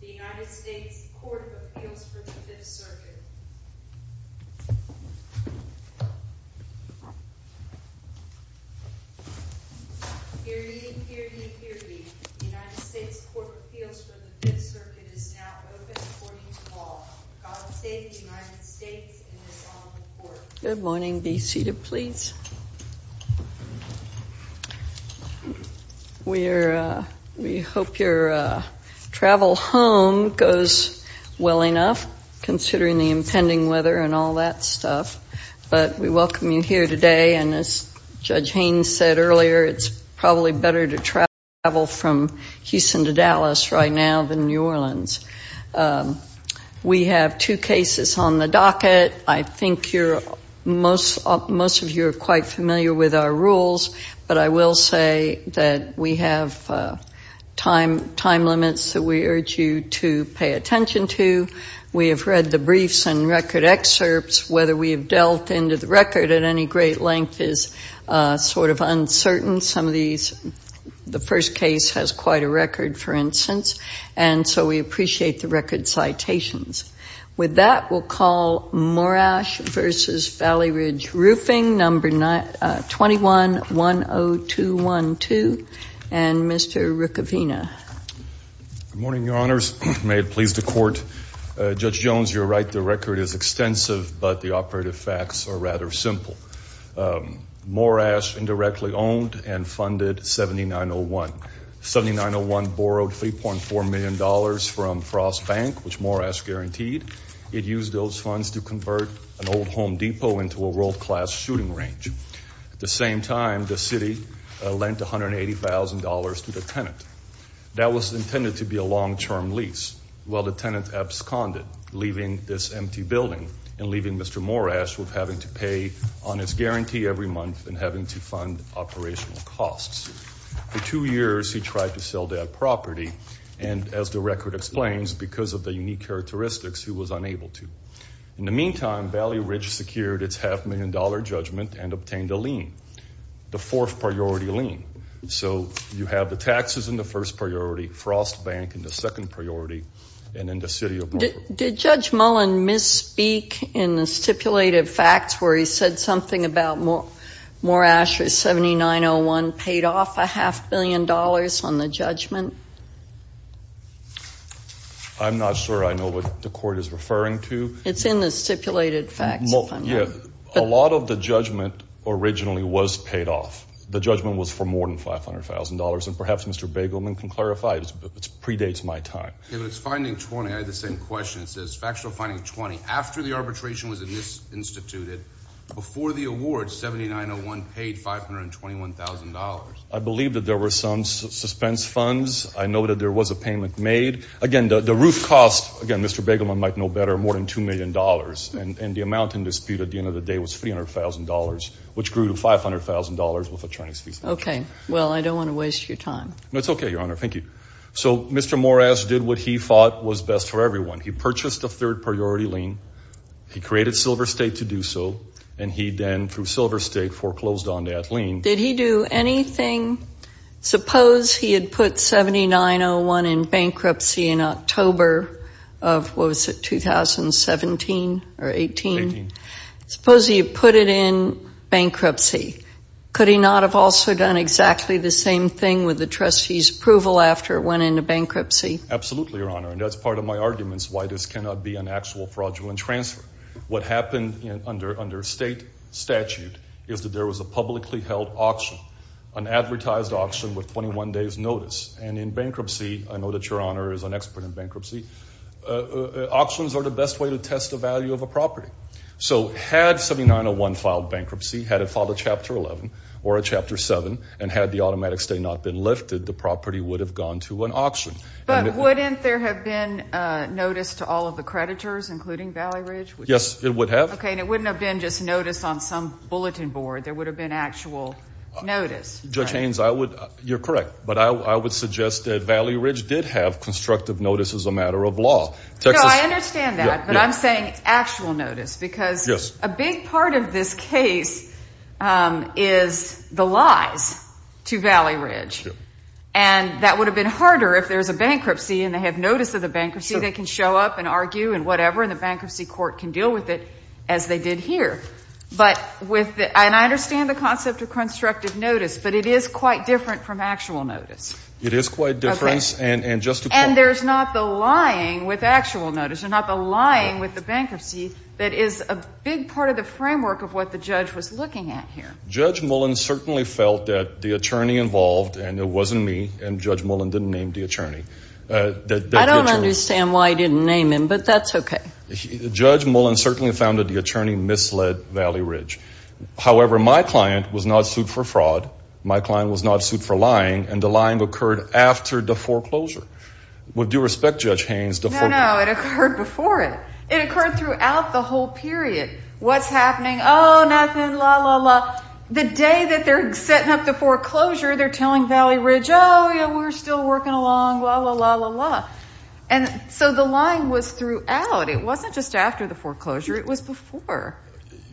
The United States Court of Appeals for the 5th Circuit is now open according to law. God save the United States in this honorable court. Good morning. Be seated, please. We hope your travel home goes well enough, considering the impending weather and all that stuff. But we welcome you here today. And as Judge Haynes said earlier, it's probably better to travel from Houston to Dallas right now than New Orleans. We have two cases on the docket. I think most of you are quite familiar with our rules. But I will say that we have time limits that we urge you to pay attention to. We have read the briefs and record excerpts. Whether we have delved into the record at any great length is sort of uncertain. The first case has quite a record, for instance. And so we appreciate the record citations. With that, we'll call Morash v. Valley Ridge Roofing, number 21-10212, and Mr. Rukavina. Good morning, Your Honors. May it please the Court. Judge Jones, you're right. The record is extensive, but the operative facts are rather simple. Morash indirectly owned and funded 7901. 7901 borrowed $3.4 million from Frost Bank, which Morash guaranteed. It used those funds to convert an old Home Depot into a world-class shooting range. At the same time, the city lent $180,000 to the tenant. That was intended to be a long-term lease. Well, the tenant absconded, leaving this empty building and leaving Mr. Morash with having to pay on his guarantee every month and having to fund operational costs. For two years, he tried to sell that property, and as the record explains, because of the unique characteristics, he was unable to. In the meantime, Valley Ridge secured its half-million-dollar judgment and obtained a lien, the fourth-priority lien. So you have the taxes in the first priority, Frost Bank in the second priority, and then the city of Brooklyn. Did Judge Mullen misspeak in the stipulated facts where he said something about Morash or 7901 paid off a half-billion dollars on the judgment? I'm not sure I know what the court is referring to. It's in the stipulated facts, if I'm wrong. Yeah. A lot of the judgment originally was paid off. The judgment was for more than $500,000, and perhaps Mr. Bagelman can clarify. It predates my time. Okay, but it's finding 20. I had the same question. It says factual finding 20, after the arbitration was instituted, before the award, 7901 paid $521,000. I believe that there were some suspense funds. I know that there was a payment made. Again, the roof cost, again, Mr. Bagelman might know better, more than $2 million. And the amount in dispute at the end of the day was $300,000, which grew to $500,000 with attorney's fees. Okay. Well, I don't want to waste your time. No, it's okay, Your Honor. Thank you. So Mr. Morris did what he thought was best for everyone. He purchased a third priority lien. He created Silver State to do so, and he then, through Silver State, foreclosed on that lien. Did he do anything? Suppose he had put 7901 in bankruptcy in October of, what was it, 2017 or 18? 18. Suppose he had put it in bankruptcy. Could he not have also done exactly the same thing with the trustee's approval after it went into bankruptcy? Absolutely, Your Honor, and that's part of my arguments why this cannot be an actual fraudulent transfer. What happened under state statute is that there was a publicly held auction, an advertised auction with 21 days' notice. And in bankruptcy, I know that Your Honor is an expert in bankruptcy, auctions are the best way to test the value of a property. So had 7901 filed bankruptcy, had it filed a Chapter 11 or a Chapter 7, and had the automatic stay not been lifted, the property would have gone to an auction. But wouldn't there have been notice to all of the creditors, including Valley Ridge? Yes, it would have. Okay, and it wouldn't have been just notice on some bulletin board. There would have been actual notice. Judge Haynes, you're correct, but I would suggest that Valley Ridge did have constructive notice as a matter of law. No, I understand that, but I'm saying actual notice because a big part of this case is the lies to Valley Ridge. And that would have been harder if there was a bankruptcy and they had notice of the bankruptcy. They can show up and argue and whatever, and the bankruptcy court can deal with it as they did here. But with the – and I understand the concept of constructive notice, but it is quite different from actual notice. It is quite different. And there's not the lying with actual notice and not the lying with the bankruptcy that is a big part of the framework of what the judge was looking at here. Judge Mullen certainly felt that the attorney involved, and it wasn't me, and Judge Mullen didn't name the attorney. I don't understand why he didn't name him, but that's okay. Judge Mullen certainly found that the attorney misled Valley Ridge. However, my client was not sued for fraud. My client was not sued for lying, and the lying occurred after the foreclosure. With due respect, Judge Haynes, the foreclosure – No, no, it occurred before it. It occurred throughout the whole period. What's happening? Oh, nothing, la, la, la. The day that they're setting up the foreclosure, they're telling Valley Ridge, oh, yeah, we're still working along, la, la, la, la, la. And so the lying was throughout. It wasn't just after the foreclosure. It was before.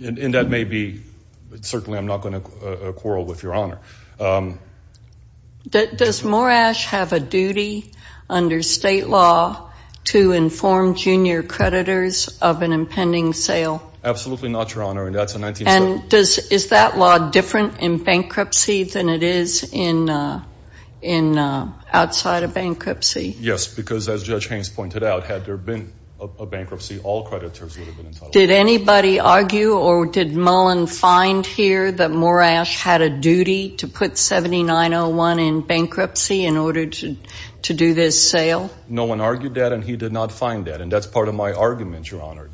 And that may be – certainly I'm not going to quarrel with Your Honor. Does Morash have a duty under state law to inform junior creditors of an impending sale? Absolutely not, Your Honor, and that's a 19th century – And is that law different in bankruptcy than it is outside of bankruptcy? Yes, because as Judge Haynes pointed out, had there been a bankruptcy, all creditors would have been entitled to – Did anybody argue or did Mullen find here that Morash had a duty to put 7901 in bankruptcy in order to do this sale? No one argued that, and he did not find that, and that's part of my argument, Your Honor,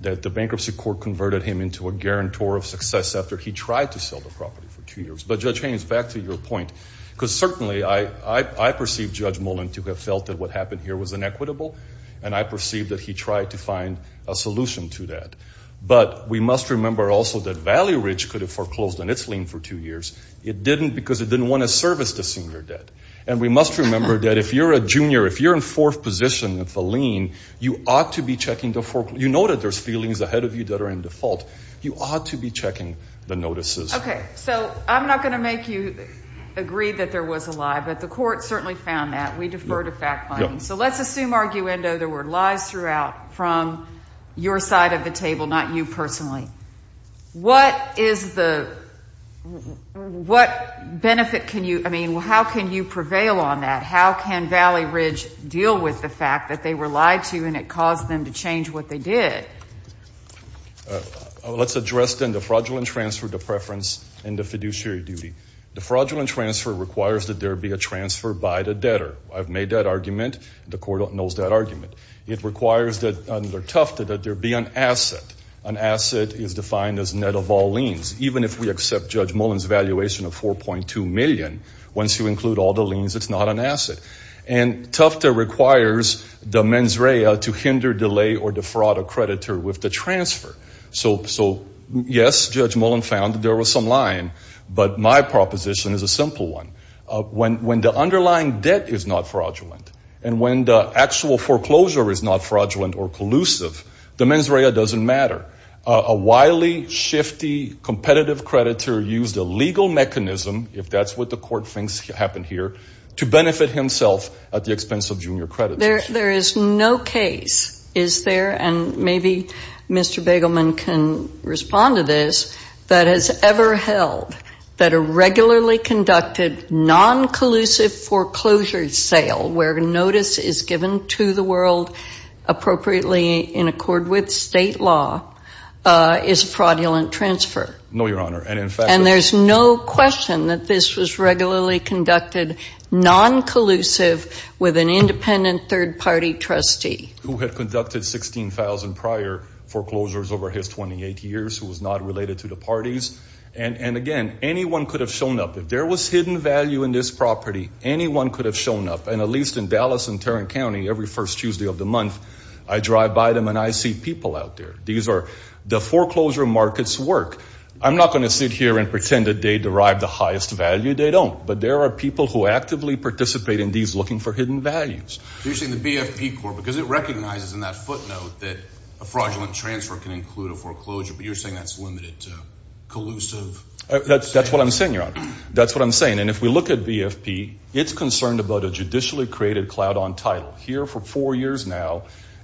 that the bankruptcy court converted him into a guarantor of success after he tried to sell the property for two years. But, Judge Haynes, back to your point, because certainly I perceive Judge Mullen to have felt that what happened here was inequitable, and I perceive that he tried to find a solution to that. But we must remember also that Valley Ridge could have foreclosed on its lien for two years. It didn't because it didn't want to service the senior debt. And we must remember that if you're a junior, if you're in fourth position at the lien, you ought to be checking the – you know that there's feelings ahead of you that are in default. You ought to be checking the notices. Okay. So I'm not going to make you agree that there was a lie, but the court certainly found that. We defer to fact-finding. So let's assume, arguendo, there were lies throughout from your side of the table, not you personally. What is the – what benefit can you – I mean, how can you prevail on that? How can Valley Ridge deal with the fact that they were lied to and it caused them to change what they did? Let's address then the fraudulent transfer, the preference, and the fiduciary duty. The fraudulent transfer requires that there be a transfer by the debtor. I've made that argument. The court knows that argument. It requires that under Tufte that there be an asset. An asset is defined as net of all liens. Even if we accept Judge Mullen's valuation of $4.2 million, once you include all the liens, it's not an asset. And Tufte requires the mens rea to hinder, delay, or defraud a creditor with the transfer. So, yes, Judge Mullen found that there was some lying, but my proposition is a simple one. When the underlying debt is not fraudulent and when the actual foreclosure is not fraudulent or collusive, the mens rea doesn't matter. A wily, shifty, competitive creditor used a legal mechanism, if that's what the court thinks happened here, to benefit himself at the expense of junior creditors. There is no case, is there, and maybe Mr. Begelman can respond to this, that has ever held that a regularly conducted, non-collusive foreclosure sale, where notice is given to the world appropriately in accord with state law, is a fraudulent transfer. No, Your Honor. And there's no question that this was regularly conducted, non-collusive, with an independent third-party trustee. Who had conducted 16,000 prior foreclosures over his 28 years, who was not related to the parties. And, again, anyone could have shown up. If there was hidden value in this property, anyone could have shown up. And at least in Dallas and Tarrant County, every first Tuesday of the month, I drive by them and I see people out there. The foreclosure markets work. I'm not going to sit here and pretend that they derive the highest value. They don't. But there are people who actively participate in these looking for hidden values. So you're saying the BFP court, because it recognizes in that footnote that a fraudulent transfer can include a foreclosure, but you're saying that's limited to collusive? That's what I'm saying, Your Honor. That's what I'm saying. And if we look at BFP, it's concerned about a judicially created cloud on title.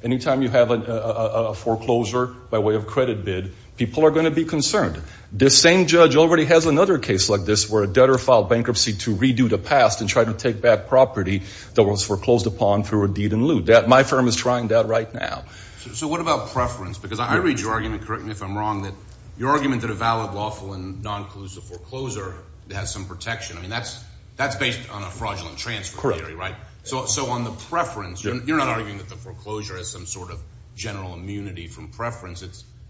Anytime you have a foreclosure by way of credit bid, people are going to be concerned. This same judge already has another case like this where a debtor filed bankruptcy to redo the past and try to take back property that was foreclosed upon through a deed in lieu. My firm is trying that right now. So what about preference? Because I read your argument, correct me if I'm wrong, that your argument that a valid, lawful, and non-collusive foreclosure has some protection, I mean, that's based on a fraudulent transfer theory, right? Correct. So on the preference, you're not arguing that the foreclosure has some sort of general immunity from preference.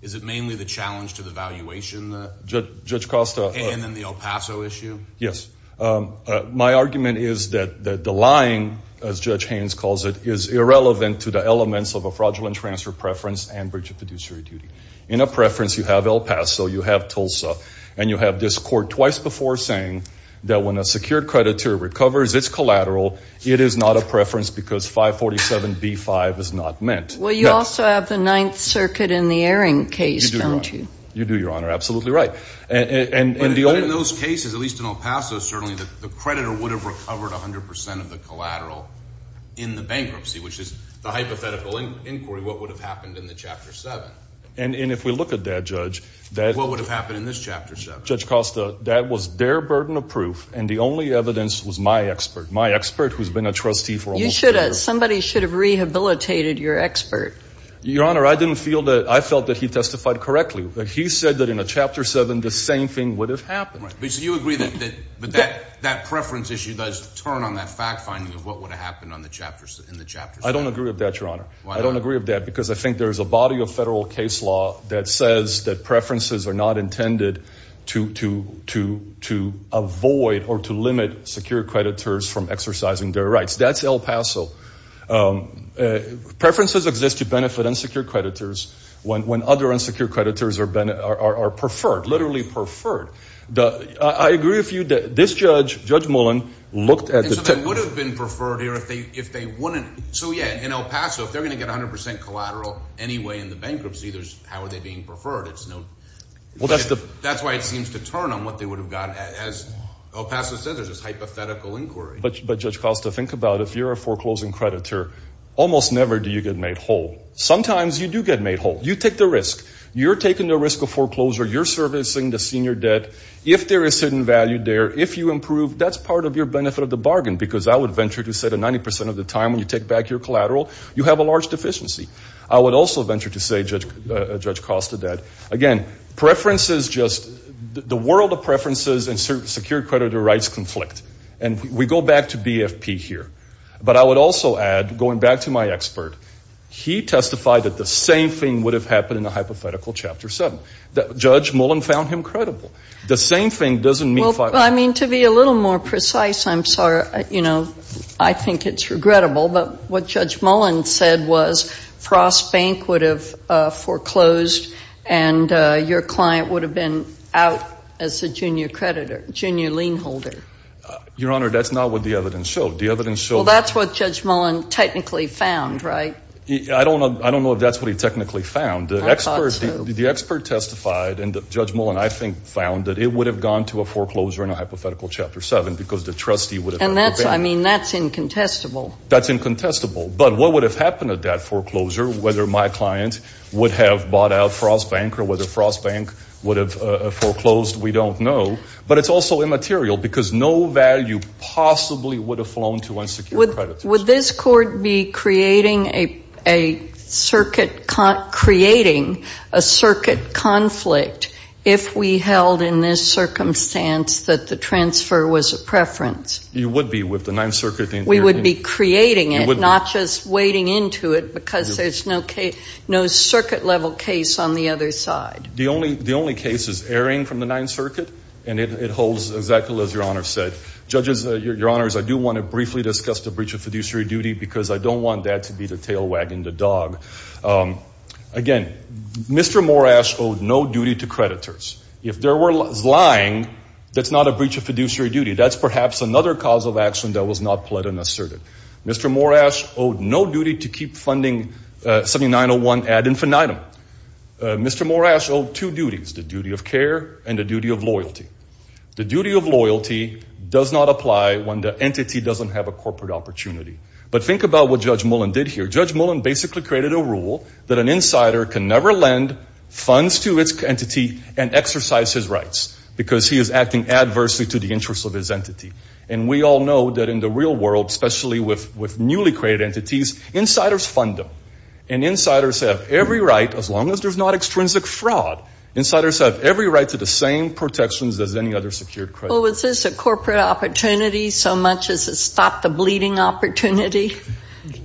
Is it mainly the challenge to the valuation? Judge Costa. And then the El Paso issue? Yes. My argument is that the lying, as Judge Haynes calls it, is irrelevant to the elements of a fraudulent transfer preference and breach of fiduciary duty. In a preference, you have El Paso, you have Tulsa, and you have this court twice before saying that when a secured creditor recovers its collateral, it is not a preference because 547B5 is not meant. Well, you also have the Ninth Circuit in the Erring case, don't you? You do, Your Honor. Absolutely right. And in those cases, at least in El Paso, certainly the creditor would have recovered 100 percent of the collateral in the bankruptcy, which is the hypothetical inquiry, what would have happened in the Chapter 7. And if we look at that, Judge— What would have happened in this Chapter 7? Judge Costa, that was their burden of proof, and the only evidence was my expert, my expert who's been a trustee for almost a year. Somebody should have rehabilitated your expert. Your Honor, I didn't feel that—I felt that he testified correctly. He said that in a Chapter 7, the same thing would have happened. So you agree that that preference issue does turn on that fact-finding of what would have happened in the Chapter 7? I don't agree with that, Your Honor. Why not? I don't agree with that because I think there's a body of federal case law that says that preferences are not intended to avoid or to limit secure creditors from exercising their rights. That's El Paso. Preferences exist to benefit unsecured creditors when other unsecured creditors are preferred, literally preferred. I agree with you that this judge, Judge Mullen, looked at the— So they would have been preferred here if they wouldn't—so, yeah, in El Paso, if they're going to get 100 percent collateral anyway in the bankruptcy, how are they being preferred? It's no—that's why it seems to turn on what they would have gotten. As El Paso said, there's this hypothetical inquiry. But, Judge Costa, think about it. If you're a foreclosing creditor, almost never do you get made whole. Sometimes you do get made whole. You take the risk. You're taking the risk of foreclosure. You're servicing the senior debt. If there is certain value there, if you improve, that's part of your benefit of the bargain. Because I would venture to say that 90 percent of the time when you take back your collateral, you have a large deficiency. I would also venture to say, Judge Costa, that, again, preferences just—the world of preferences and secure creditor rights conflict. And we go back to BFP here. But I would also add, going back to my expert, he testified that the same thing would have happened in a hypothetical Chapter 7. Judge Mullen found him credible. The same thing doesn't mean— Well, I mean, to be a little more precise, I'm sorry, you know, I think it's regrettable. But what Judge Mullen said was Frost Bank would have foreclosed and your client would have been out as a junior creditor, junior lien holder. Your Honor, that's not what the evidence showed. The evidence showed— Well, that's what Judge Mullen technically found, right? I don't know if that's what he technically found. I thought so. The expert testified, and Judge Mullen, I think, found that it would have gone to a foreclosure in a hypothetical Chapter 7 because the trustee would have— And that's—I mean, that's incontestable. That's incontestable. But what would have happened at that foreclosure, whether my client would have bought out Frost Bank or whether Frost Bank would have foreclosed, we don't know. But it's also immaterial because no value possibly would have flown to unsecured creditors. Would this Court be creating a circuit—creating a circuit conflict if we held in this circumstance that the transfer was a preference? You would be with the Ninth Circuit. We would be creating it, not just wading into it because there's no circuit-level case on the other side. The only case is erring from the Ninth Circuit, and it holds exactly as Your Honor said. Judges, Your Honors, I do want to briefly discuss the breach of fiduciary duty because I don't want that to be the tail wagging the dog. Again, Mr. Morash owed no duty to creditors. If there was lying, that's not a breach of fiduciary duty. That's perhaps another cause of action that was not pled and asserted. Mr. Morash owed no duty to keep funding 7901 ad infinitum. Mr. Morash owed two duties, the duty of care and the duty of loyalty. The duty of loyalty does not apply when the entity doesn't have a corporate opportunity. But think about what Judge Mullen did here. Judge Mullen basically created a rule that an insider can never lend funds to its entity and exercise his rights because he is acting adversely to the interests of his entity. And we all know that in the real world, especially with newly created entities, insiders fund them. And insiders have every right, as long as there's not extrinsic fraud, insiders have every right to the same protections as any other secured credit. Well, was this a corporate opportunity so much as it stopped the bleeding opportunity?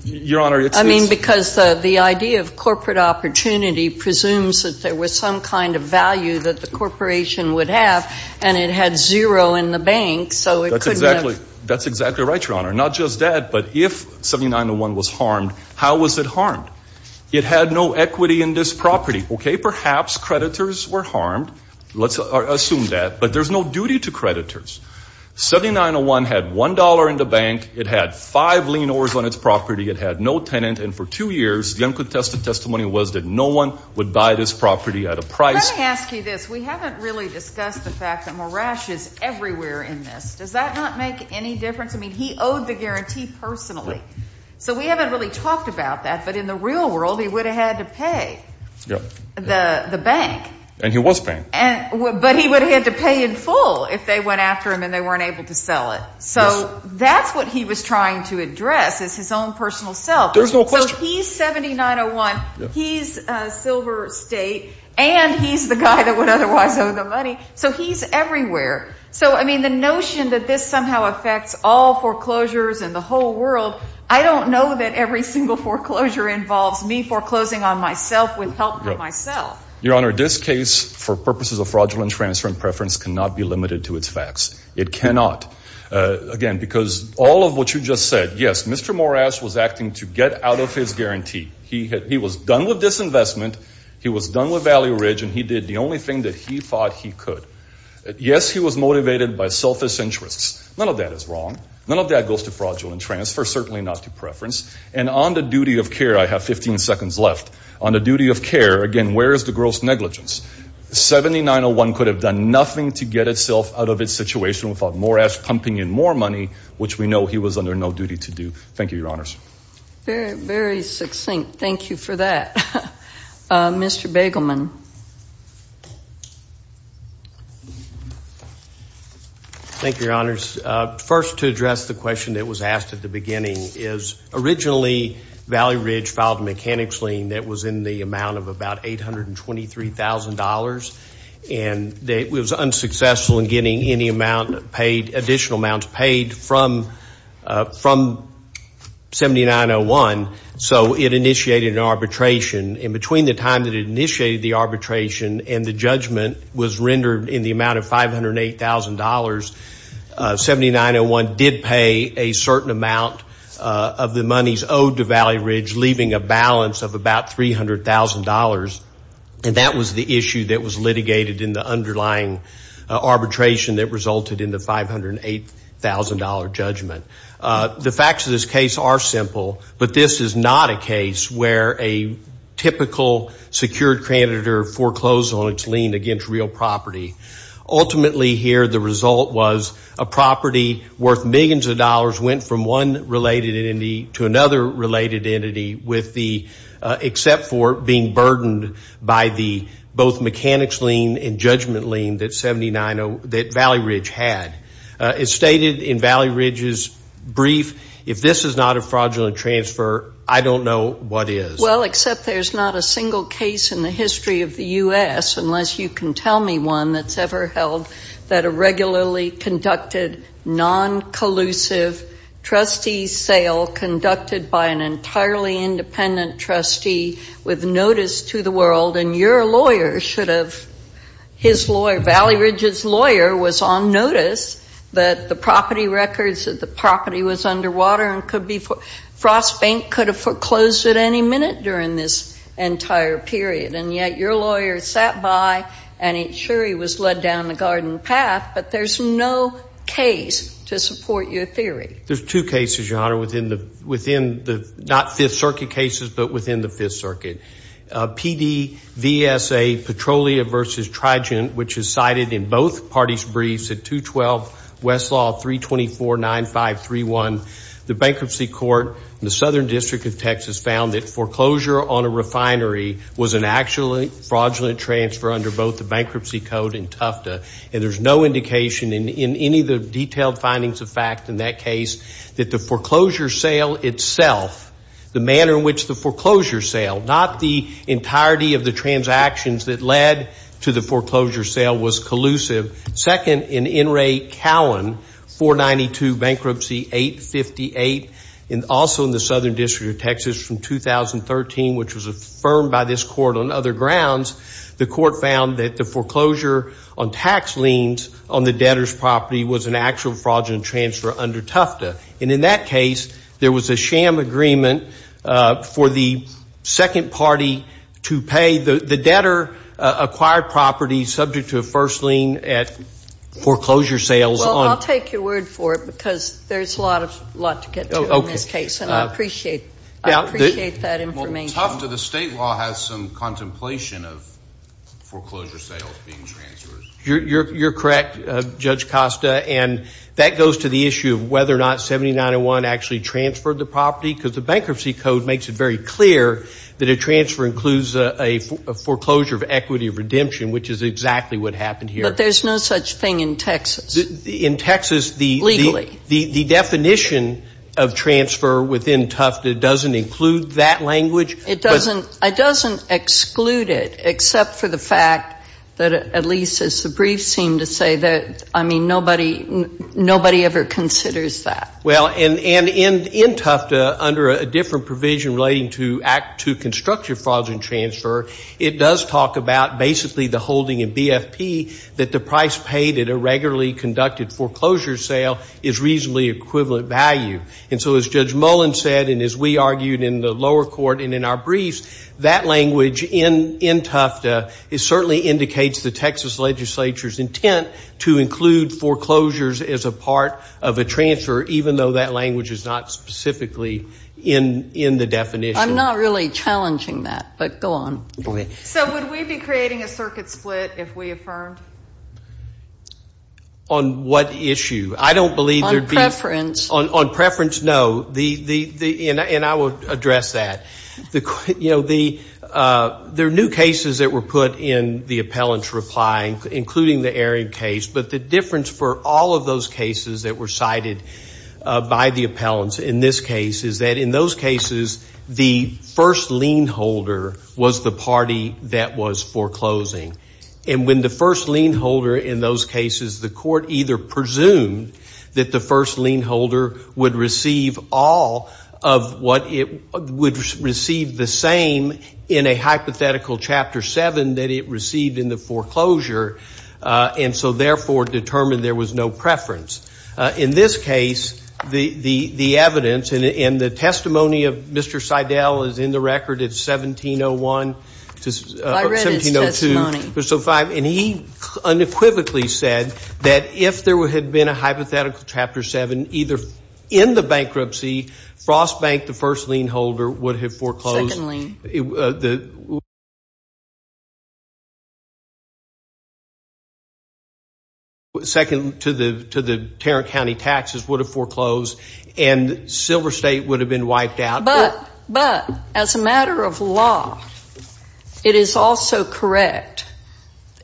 Your Honor, it is. I mean, because the idea of corporate opportunity presumes that there was some kind of value that the corporation would have, and it had zero in the bank, so it couldn't have. That's exactly right, Your Honor. Not just that, but if 7901 was harmed, how was it harmed? It had no equity in this property. Okay, perhaps creditors were harmed. Let's assume that. But there's no duty to creditors. 7901 had $1 in the bank. It had five lien overs on its property. It had no tenant. And for two years, the uncontested testimony was that no one would buy this property at a price. Let me ask you this. We haven't really discussed the fact that Marash is everywhere in this. Does that not make any difference? I mean, he owed the guarantee personally. So we haven't really talked about that. But in the real world, he would have had to pay. The bank. And he was paying. But he would have had to pay in full if they went after him and they weren't able to sell it. So that's what he was trying to address is his own personal self. There's no question. So he's 7901. He's Silver State. And he's the guy that would otherwise owe the money. So he's everywhere. So, I mean, the notion that this somehow affects all foreclosures in the whole world, I don't know that every single foreclosure involves me foreclosing on myself with help from myself. Your Honor, this case, for purposes of fraudulent transfer and preference, cannot be limited to its facts. It cannot. Again, because all of what you just said, yes, Mr. Marash was acting to get out of his guarantee. He was done with disinvestment. He was done with value ridge. And he did the only thing that he thought he could. Yes, he was motivated by selfish interests. None of that is wrong. None of that goes to fraudulent transfer, certainly not to preference. And on the duty of care, I have 15 seconds left. On the duty of care, again, where is the gross negligence? 7901 could have done nothing to get itself out of its situation without Morash pumping in more money, which we know he was under no duty to do. Thank you, Your Honors. Very, very succinct. Mr. Bagelman. Thank you, Your Honors. First, to address the question that was asked at the beginning is, originally, value ridge filed a mechanics lien that was in the amount of about $823,000. And it was unsuccessful in getting any additional amounts paid from 7901. So it initiated an arbitration. And between the time that it initiated the arbitration and the judgment was rendered in the amount of $508,000, 7901 did pay a certain amount of the monies owed to value ridge, leaving a balance of about $300,000. And that was the issue that was litigated in the underlying arbitration that resulted in the $508,000 judgment. The facts of this case are simple. But this is not a case where a typical secured creditor foreclosed on its lien against real property. Ultimately here, the result was a property worth millions of dollars went from one related entity to another related entity, except for being burdened by both the mechanics lien and judgment lien that Valley Ridge had. As stated in Valley Ridge's brief, if this is not a fraudulent transfer, I don't know what is. Well, except there's not a single case in the history of the U.S., unless you can tell me one that's ever held, that a regularly conducted non-collusive trustee sale conducted by an entirely independent trustee with notice to the world, and your lawyer should have, his lawyer, Valley Ridge's lawyer, was on notice that the property records, that the property was underwater and could be, Frost Bank could have foreclosed at any minute during this entire period. And yet your lawyer sat by and ain't sure he was led down the garden path. But there's no case to support your theory. There's two cases, Your Honor, within the, not Fifth Circuit cases, but within the Fifth Circuit. PDVSA Petrolia versus Trigent, which is cited in both parties' briefs at 212 Westlaw 3249531. The bankruptcy court in the Southern District of Texas found that foreclosure on a refinery was an actual fraudulent transfer under both the bankruptcy code and Tufta. And there's no indication in any of the detailed findings of fact in that case that the foreclosure sale itself, the manner in which the foreclosure sale, not the entirety of the transactions that led to the foreclosure sale, was collusive. Second, in N. Ray Cowan, 492 Bankruptcy 858, and also in the Southern District of Texas from 2013, which was affirmed by this court on other grounds, the court found that the foreclosure on tax liens on the debtor's property was an actual fraudulent transfer under Tufta. And in that case, there was a sham agreement for the second party to pay the debtor acquired property subject to a first lien at foreclosure sales. Well, I'll take your word for it because there's a lot to get to in this case, and I appreciate that information. Well, Tufta, the state law has some contemplation of foreclosure sales being transferred. You're correct, Judge Costa, and that goes to the issue of whether or not 7901 actually transferred the property because the Bankruptcy Code makes it very clear that a transfer includes a foreclosure of equity of redemption, which is exactly what happened here. But there's no such thing in Texas. In Texas, the definition of transfer within Tufta doesn't include that language. It doesn't exclude it except for the fact that, at least as the briefs seem to say, that, I mean, nobody ever considers that. Well, and in Tufta, under a different provision relating to constructive fraudulent transfer, it does talk about basically the holding in BFP that the price paid at a regularly conducted foreclosure sale is reasonably equivalent value. And so as Judge Mullen said and as we argued in the lower court and in our briefs, that language in Tufta, it certainly indicates the Texas legislature's intent to include foreclosures as a part of a transfer, even though that language is not specifically in the definition. I'm not really challenging that, but go on. So would we be creating a circuit split if we affirmed? On what issue? On preference. On preference, no. And I will address that. You know, there are new cases that were put in the appellant's reply, including the Aram case, but the difference for all of those cases that were cited by the appellants in this case is that in those cases, the first lien holder was the party that was foreclosing. And when the first lien holder in those cases, the court either presumed that the first lien holder would receive all of what it would receive the same in a hypothetical chapter seven that it received in the foreclosure, and so therefore determined there was no preference. In this case, the evidence and the testimony of Mr. Seidel is in the record. It's 1701. I read his testimony. And he unequivocally said that if there had been a hypothetical chapter seven either in the bankruptcy, Frost Bank, the first lien holder, would have foreclosed. Second lien. Second to the Tarrant County taxes would have foreclosed, and Silver State would have been wiped out. But as a matter of law, it is also correct.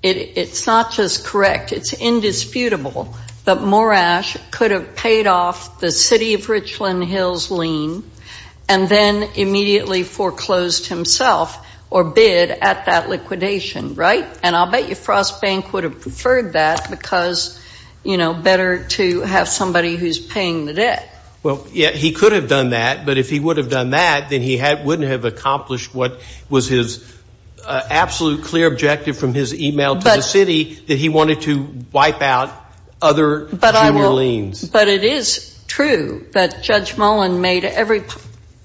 It's not just correct. It's indisputable that Morash could have paid off the city of Richland Hills lien and then immediately foreclosed himself or bid at that liquidation, right? And I'll bet you Frost Bank would have preferred that because, you know, better to have somebody who's paying the debt. Well, yeah, he could have done that, but if he would have done that, then he wouldn't have accomplished what was his absolute clear objective from his e-mail to the city, that he wanted to wipe out other junior liens. But it is true that Judge Mullen made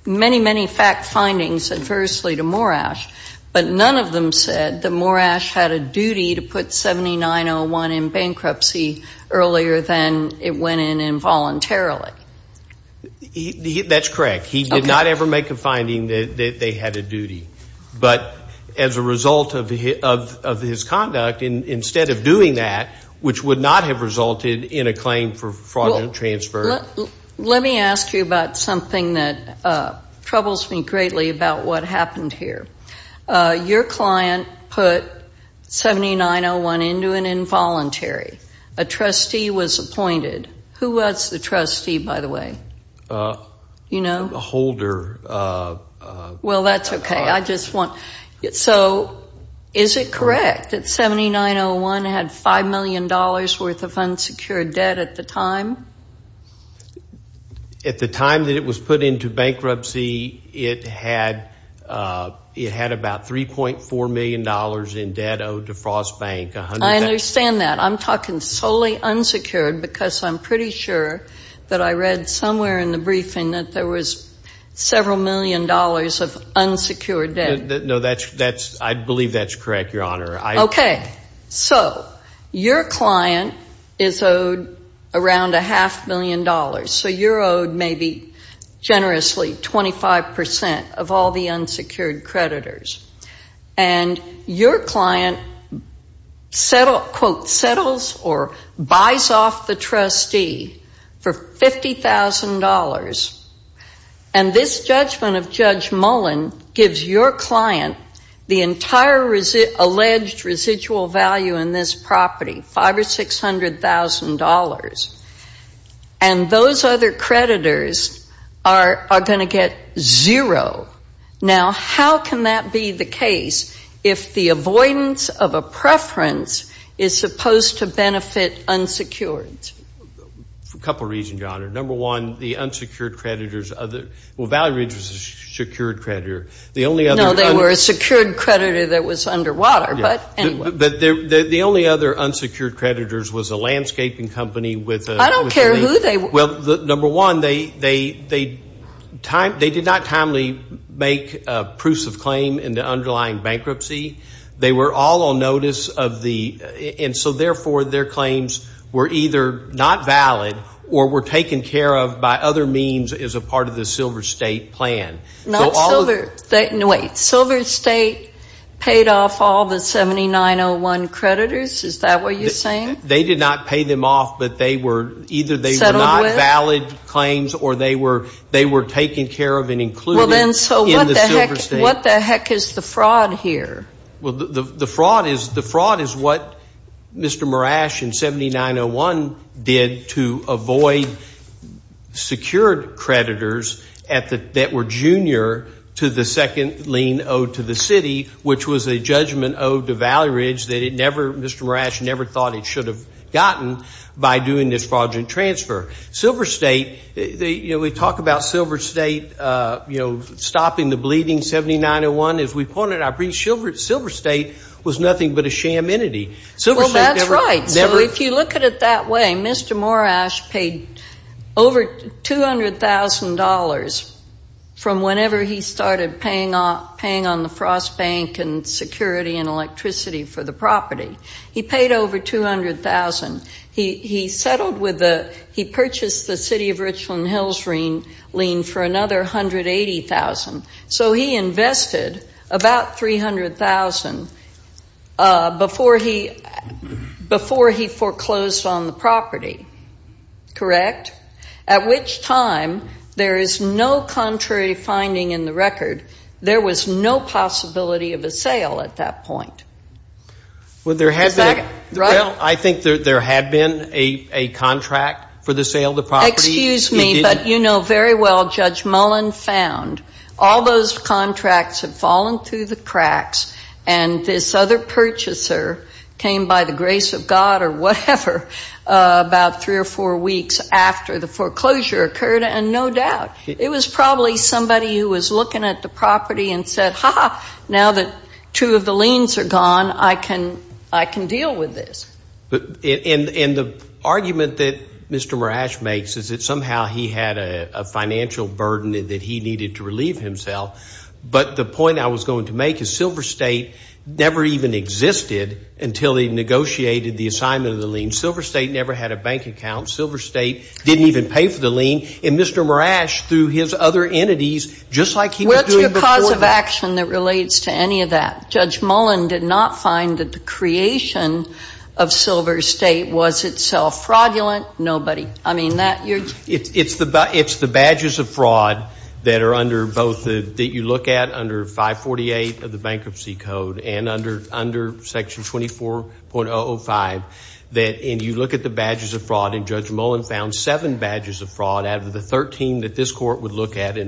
many, many fact findings adversely to Morash, but none of them said that Morash had a duty to put 7901 in bankruptcy earlier than it went in involuntarily. That's correct. He did not ever make a finding that they had a duty. But as a result of his conduct, instead of doing that, which would not have resulted in a claim for fraudulent transfer. Let me ask you about something that troubles me greatly about what happened here. Your client put 7901 into an involuntary. A trustee was appointed. Who was the trustee, by the way? You know. A holder. Well, that's okay. I just want. So is it correct that 7901 had $5 million worth of unsecured debt at the time? At the time that it was put into bankruptcy, it had about $3.4 million in debt owed to Frost Bank. I understand that. I'm talking solely unsecured because I'm pretty sure that I read somewhere in the briefing that there was several million dollars of unsecured debt. No, I believe that's correct, Your Honor. Okay. So your client is owed around a half million dollars. So you're owed maybe generously 25% of all the unsecured creditors. And your client, quote, settles or buys off the trustee for $50,000. And this judgment of Judge Mullen gives your client the entire alleged residual value in this property, $500,000 or $600,000. And those other creditors are going to get zero. Now, how can that be the case if the avoidance of a preference is supposed to benefit unsecureds? Well, Valley Ridge was a secured creditor. No, they were a secured creditor that was underwater, but anyway. But the only other unsecured creditors was a landscaping company. I don't care who they were. Well, number one, they did not timely make proofs of claim in the underlying bankruptcy. They were all on notice of the ‑‑ and so, therefore, their claims were either not valid or were taken care of by other means as a part of the Silver State plan. Not Silver State. Wait. Silver State paid off all the 7901 creditors? Is that what you're saying? They did not pay them off, but they were either they were not valid claims or they were taken care of and included in the Silver State. What the heck is the fraud here? Well, the fraud is what Mr. Marash in 7901 did to avoid secured creditors that were junior to the second lien owed to the city, which was a judgment owed to Valley Ridge that Mr. Marash never thought he should have gotten by doing this fraudulent transfer. Silver State, you know, we talk about Silver State, you know, stopping the bleeding 7901. As we pointed out, Silver State was nothing but a sham entity. Well, that's right. So if you look at it that way, Mr. Marash paid over $200,000 from whenever he started paying on the Frost Bank and security and electricity for the property. He paid over $200,000. He purchased the city of Richland Hills lien for another $180,000. So he invested about $300,000 before he foreclosed on the property, correct? At which time there is no contrary finding in the record. There was no possibility of a sale at that point. Well, I think there had been a contract for the sale of the property. Excuse me, but you know very well Judge Mullen found all those contracts had fallen through the cracks, and this other purchaser came by the grace of God or whatever about three or four weeks after the foreclosure occurred, and no doubt. It was probably somebody who was looking at the property and said, ha-ha, now that two of the liens are gone, I can deal with this. And the argument that Mr. Marash makes is that somehow he had a financial burden that he needed to relieve himself. But the point I was going to make is Silver State never even existed until he negotiated the assignment of the lien. Silver State never had a bank account. And Mr. Marash, through his other entities, just like he was doing before that. What's your cause of action that relates to any of that? Judge Mullen did not find that the creation of Silver State was itself fraudulent. Nobody. I mean, that you're... It's the badges of fraud that are under both the, that you look at under 548 of the Bankruptcy Code and under Section 24.005. And you look at the badges of fraud, and Judge Mullen found seven badges of fraud out of the 13 that this court would look at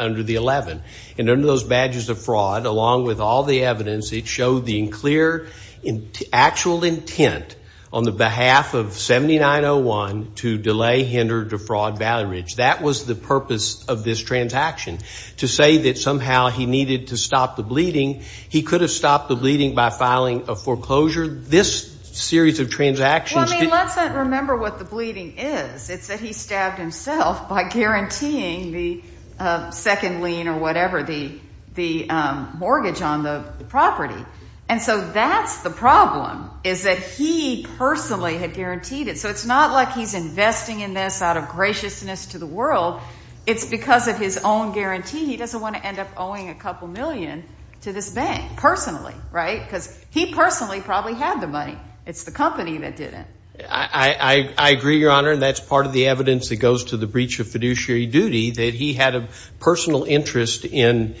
under the 11. And under those badges of fraud, along with all the evidence, it showed the clear actual intent on the behalf of 7901 to delay, hinder, defraud Valley Ridge. That was the purpose of this transaction, to say that somehow he needed to stop the bleeding. He could have stopped the bleeding by filing a foreclosure. This series of transactions... Well, I mean, let's not remember what the bleeding is. It's that he stabbed himself by guaranteeing the second lien or whatever, the mortgage on the property. And so that's the problem, is that he personally had guaranteed it. So it's not like he's investing in this out of graciousness to the world. It's because of his own guarantee. He doesn't want to end up owing a couple million to this bank personally, right? Because he personally probably had the money. It's the company that did it. I agree, Your Honor, and that's part of the evidence that goes to the breach of fiduciary duty, that he had a personal interest in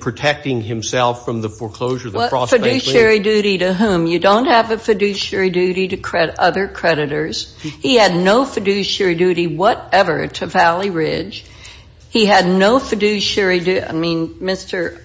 protecting himself from the foreclosure. What fiduciary duty to whom? You don't have a fiduciary duty to other creditors. He had no fiduciary duty whatever to Valley Ridge. He had no fiduciary duty. I mean, Mr.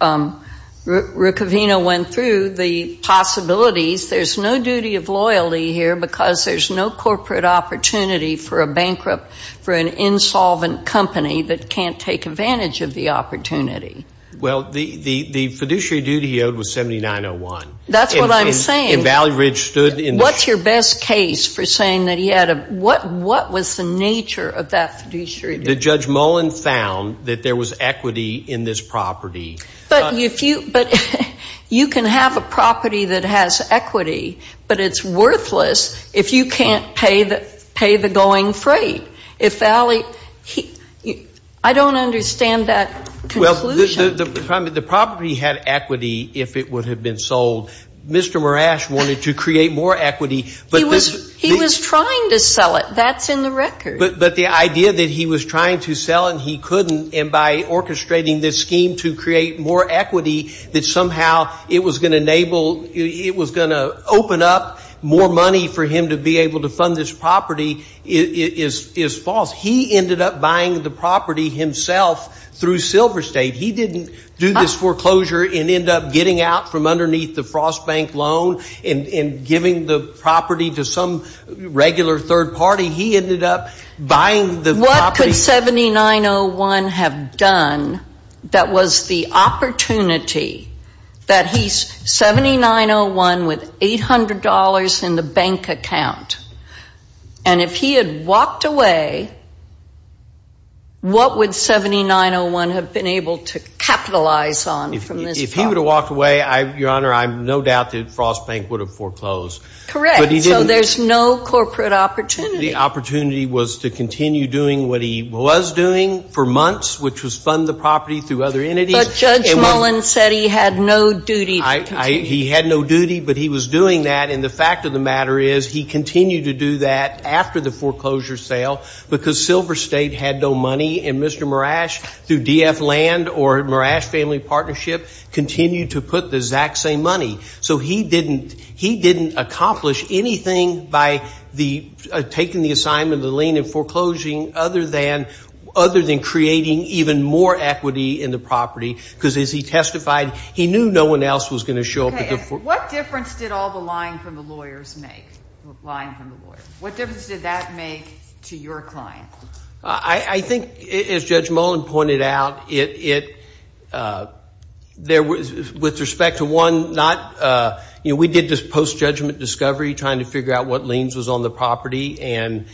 Riccovino went through the possibilities. There's no duty of loyalty here because there's no corporate opportunity for a bankrupt, for an insolvent company that can't take advantage of the opportunity. Well, the fiduciary duty he owed was $79.01. That's what I'm saying. And Valley Ridge stood in... What's your best case for saying that he had a... what was the nature of that fiduciary duty? That Judge Mullen found that there was equity in this property. But you can have a property that has equity, but it's worthless if you can't pay the going freight. If Valley... I don't understand that conclusion. Well, the property had equity if it would have been sold. Mr. Marash wanted to create more equity, but... He was trying to sell it. That's in the record. But the idea that he was trying to sell it and he couldn't, and by orchestrating this scheme to create more equity, that somehow it was going to enable... it was going to open up more money for him to be able to fund this property is false. He ended up buying the property himself through Silver State. He didn't do this foreclosure and end up getting out from underneath the Frost Bank loan and giving the property to some regular third party. He ended up buying the property... What could 7901 have done that was the opportunity that he's 7901 with $800 in the bank account? And if he had walked away, what would 7901 have been able to capitalize on from this property? If he would have walked away, Your Honor, I have no doubt that Frost Bank would have foreclosed. Correct. So there's no corporate opportunity. The opportunity was to continue doing what he was doing for months, which was fund the property through other entities. But Judge Mullen said he had no duty to continue. He had no duty, but he was doing that. And the fact of the matter is he continued to do that after the foreclosure sale because Silver State had no money. And Mr. Marash, through DF Land or Marash Family Partnership, continued to put the exact same money. So he didn't accomplish anything by taking the assignment of the lien and foreclosing other than creating even more equity in the property because, as he testified, he knew no one else was going to show up. What difference did all the lying from the lawyers make? Lying from the lawyers. What difference did that make to your client? I think, as Judge Mullen pointed out, there was, with respect to one, not, you know, we did this post-judgment discovery trying to figure out what liens was on the property, and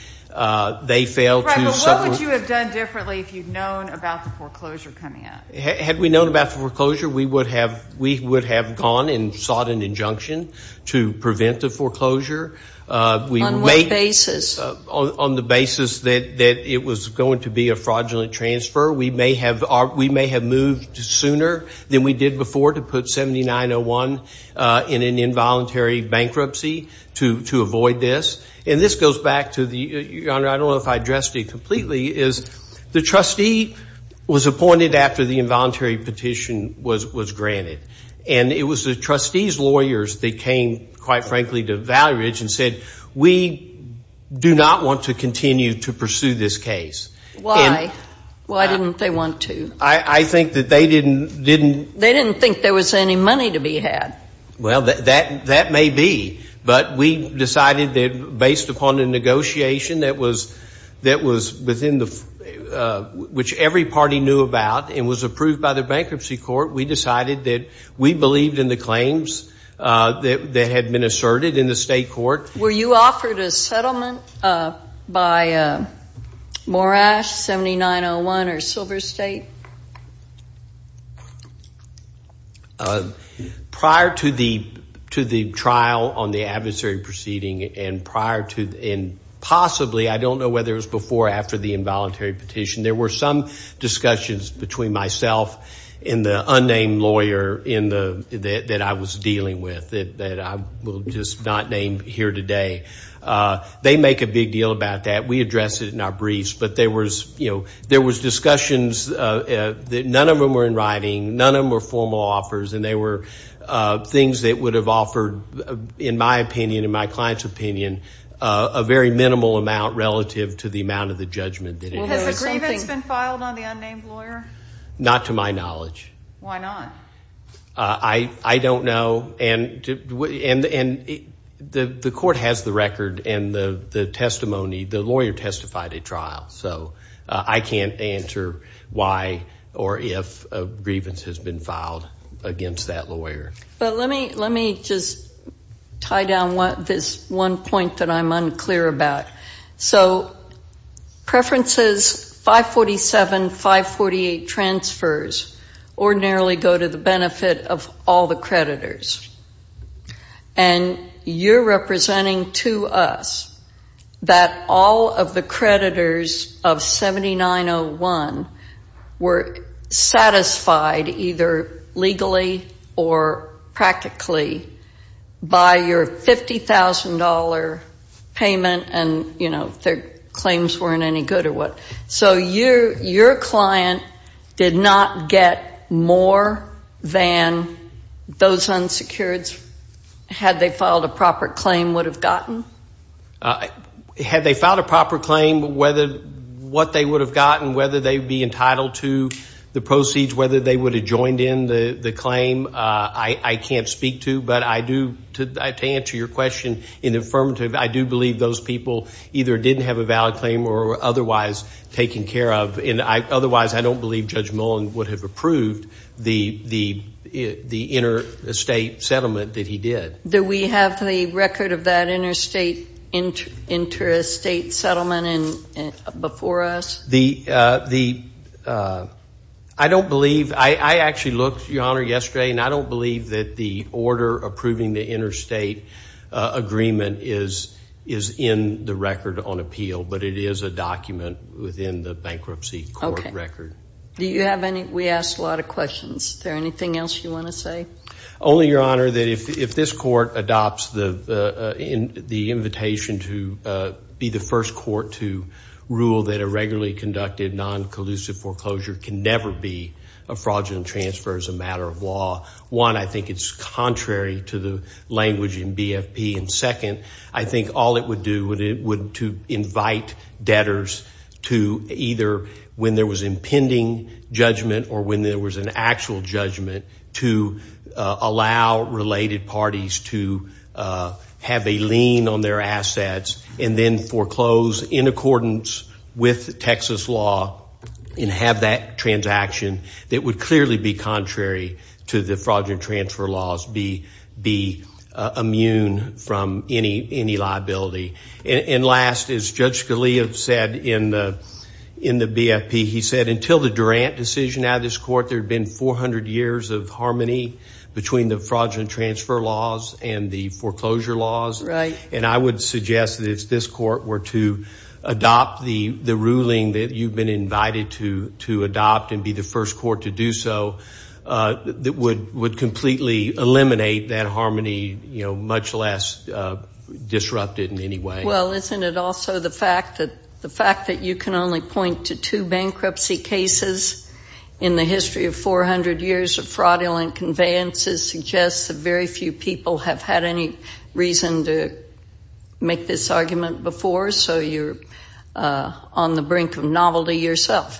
they failed to. Right, but what would you have done differently if you'd known about the foreclosure coming up? Had we known about the foreclosure, we would have gone and sought an injunction to prevent the foreclosure. On what basis? On the basis that it was going to be a fraudulent transfer. We may have moved sooner than we did before to put 7901 in an involuntary bankruptcy to avoid this. And this goes back to the, Your Honor, I don't know if I addressed it completely, is the trustee was appointed after the involuntary petition was granted. And it was the trustees' lawyers that came, quite frankly, to Valley Ridge and said, we do not want to continue to pursue this case. Why? Why didn't they want to? I think that they didn't. They didn't think there was any money to be had. Well, that may be, but we decided that based upon a negotiation that was within the, which every party knew about and was approved by the bankruptcy court, we decided that we believed in the claims that had been asserted in the state court. Were you offered a settlement by Morash 7901 or Silver State? Prior to the trial on the adversary proceeding and prior to, and possibly, I don't know whether it was before or after the involuntary petition, there were some discussions between myself and the unnamed lawyer that I was dealing with, that I will just not name here today. They make a big deal about that. We address it in our briefs. But there was discussions that none of them were in writing, none of them were formal offers, and they were things that would have offered, in my opinion, in my client's opinion, a very minimal amount relative to the amount of the judgment that it had. Has a grievance been filed on the unnamed lawyer? Not to my knowledge. Why not? I don't know. And the court has the record and the testimony. The lawyer testified at trial. So I can't answer why or if a grievance has been filed against that lawyer. But let me just tie down this one point that I'm unclear about. So preferences 547, 548 transfers ordinarily go to the benefit of all the creditors. And you're representing to us that all of the creditors of 7901 were satisfied either legally or practically by your $50,000 payment and, you know, their claims weren't any good or what. So your client did not get more than those unsecureds, had they filed a proper claim, would have gotten? Had they filed a proper claim, what they would have gotten, whether they would be entitled to the proceeds, whether they would have joined in the claim, I can't speak to. But I do, to answer your question in the affirmative, I do believe those people either didn't have a valid claim or were otherwise taken care of. And otherwise, I don't believe Judge Mullen would have approved the interstate settlement that he did. Do we have the record of that interstate settlement before us? I don't believe. I actually looked, Your Honor, yesterday, and I don't believe that the order approving the interstate agreement is in the record on appeal, but it is a document within the bankruptcy court record. Do you have any? We asked a lot of questions. Is there anything else you want to say? Only, Your Honor, that if this court adopts the invitation to be the first court to rule that a regularly conducted non-collusive foreclosure can never be a fraudulent transfer as a matter of law, one, I think it's contrary to the language in BFP, and second, I think all it would do would to invite debtors to either when there was impending judgment or when there was an actual judgment to allow related parties to have a lien on their assets and then foreclose in accordance with Texas law and have that transaction that would clearly be contrary to the fraudulent transfer laws, be immune from any liability. And last, as Judge Scalia said in the BFP, he said until the Durant decision out of this court, there had been 400 years of harmony between the fraudulent transfer laws and the foreclosure laws. Right. And I would suggest that if this court were to adopt the ruling that you've been invited to adopt and be the first court to do so, that would completely eliminate that harmony, you know, much less disrupt it in any way. Well, isn't it also the fact that you can only point to two bankruptcy cases in the history of 400 years of fraudulent conveyances suggests that very few people have had any reason to make this argument before, so you're on the brink of novelty yourself.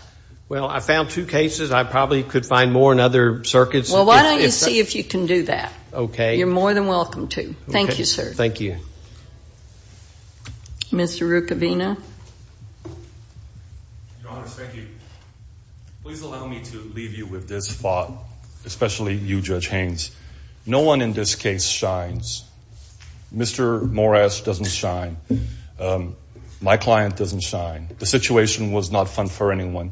Well, I found two cases. I probably could find more in other circuits. Well, why don't you see if you can do that? Okay. You're more than welcome to. Thank you, sir. Thank you. Mr. Rucavina. Your Honor, thank you. Please allow me to leave you with this thought, especially you, Judge Haynes. No one in this case shines. Mr. Morris doesn't shine. My client doesn't shine. The situation was not fun for anyone.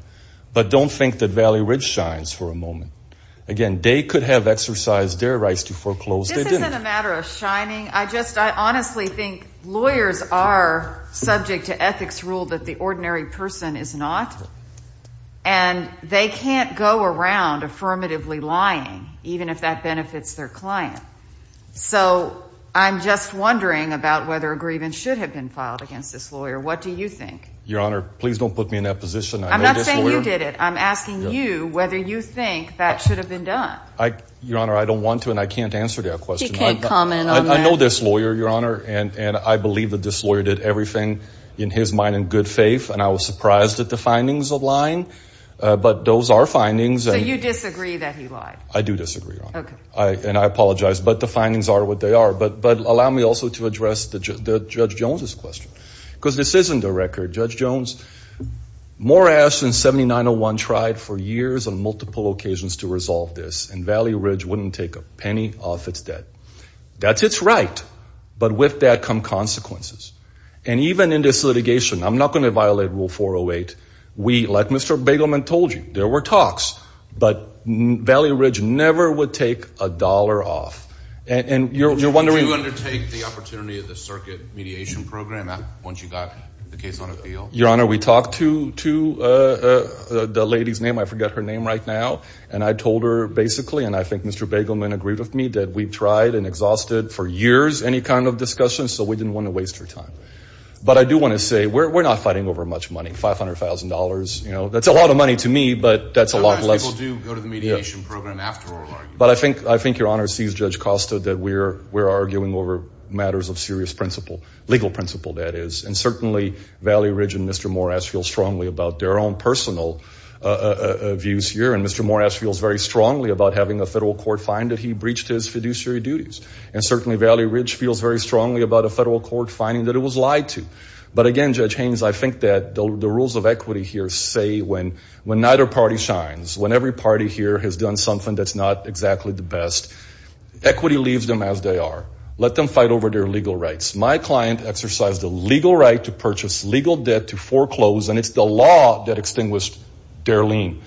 But don't think that Valley Ridge shines for a moment. Again, they could have exercised their rights to foreclose. This isn't a matter of shining. I honestly think lawyers are subject to ethics rule that the ordinary person is not, and they can't go around affirmatively lying, even if that benefits their client. So I'm just wondering about whether a grievance should have been filed against this lawyer. What do you think? Your Honor, please don't put me in that position. I'm not saying you did it. I'm asking you whether you think that should have been done. Your Honor, I don't want to, and I can't answer that question. We can't comment on that. I know this lawyer, Your Honor, and I believe that this lawyer did everything in his mind and good faith, and I was surprised at the findings of lying, but those are findings. So you disagree that he lied? I do disagree, Your Honor. Okay. And I apologize, but the findings are what they are. But allow me also to address Judge Jones's question, because this isn't a record. Judge Jones, Morris and 7901 tried for years on multiple occasions to resolve this, and Valley Ridge wouldn't take a penny off its debt. That's its right, but with that come consequences. And even in this litigation, I'm not going to violate Rule 408. We, like Mr. Begelman told you, there were talks, but Valley Ridge never would take a dollar off. And you're wondering. Did you undertake the opportunity of the circuit mediation program once you got the case on appeal? Your Honor, we talked to the lady's name. I forget her name right now, and I told her basically, and I think Mr. Begelman agreed with me that we tried and exhausted for years any kind of discussion, so we didn't want to waste her time. But I do want to say we're not fighting over much money, $500,000. That's a lot of money to me, but that's a lot less. Sometimes people do go to the mediation program after oral arguments. But I think Your Honor sees Judge Costa that we're arguing over matters of serious principle, legal principle that is, and certainly Valley Ridge and Mr. Morris feel strongly about their own personal views here. And Mr. Morris feels very strongly about having a federal court find that he breached his fiduciary duties. And certainly Valley Ridge feels very strongly about a federal court finding that it was lied to. But again, Judge Haynes, I think that the rules of equity here say when neither party shines, when every party here has done something that's not exactly the best, equity leaves them as they are. Let them fight over their legal rights. My client exercised a legal right to purchase legal debt to foreclose, and it's the law that extinguished their lien.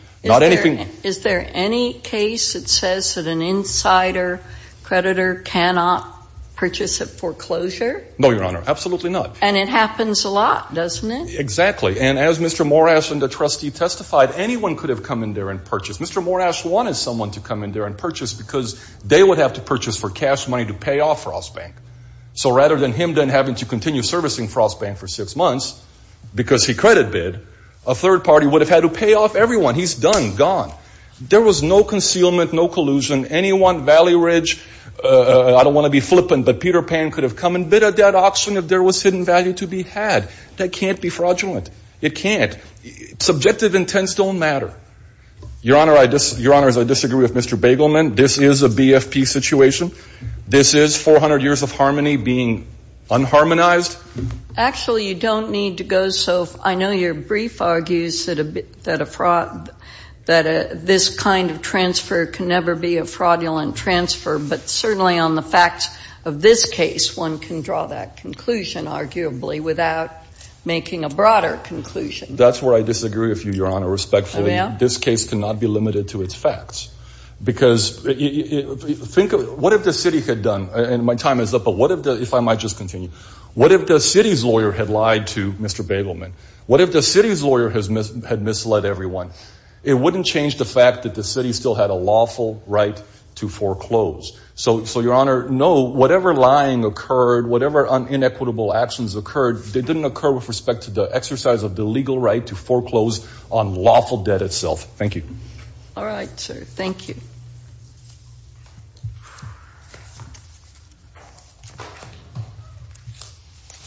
Is there any case that says that an insider creditor cannot purchase a foreclosure? No, Your Honor, absolutely not. And it happens a lot, doesn't it? Exactly. And as Mr. Morash and the trustee testified, anyone could have come in there and purchased. Mr. Morash wanted someone to come in there and purchase because they would have to purchase for cash money to pay off Ross Bank. So rather than him then having to continue servicing Ross Bank for six months because he credit bid, a third party would have had to pay off everyone. He's done, gone. There was no concealment, no collusion. Anyone, Valley Ridge, I don't want to be flippant, but Peter Pan could have come and bid at that auction if there was hidden value to be had. That can't be fraudulent. It can't. Subjective intents don't matter. Your Honor, I disagree with Mr. Bagelman. This is a BFP situation. This is 400 years of harmony being unharmonized. Actually, you don't need to go. So I know your brief argues that this kind of transfer can never be a fraudulent transfer. But certainly on the facts of this case, one can draw that conclusion, arguably, without making a broader conclusion. That's where I disagree with you, Your Honor, respectfully. Oh, yeah? This case cannot be limited to its facts. Because think of what if the city had done, and my time is up, but what if I might just continue. What if the city's lawyer had lied to Mr. Bagelman? What if the city's lawyer had misled everyone? It wouldn't change the fact that the city still had a lawful right to foreclose. So, Your Honor, no, whatever lying occurred, whatever inequitable actions occurred, they didn't occur with respect to the exercise of the legal right to foreclose on lawful debt itself. Thank you. All right. Thank you.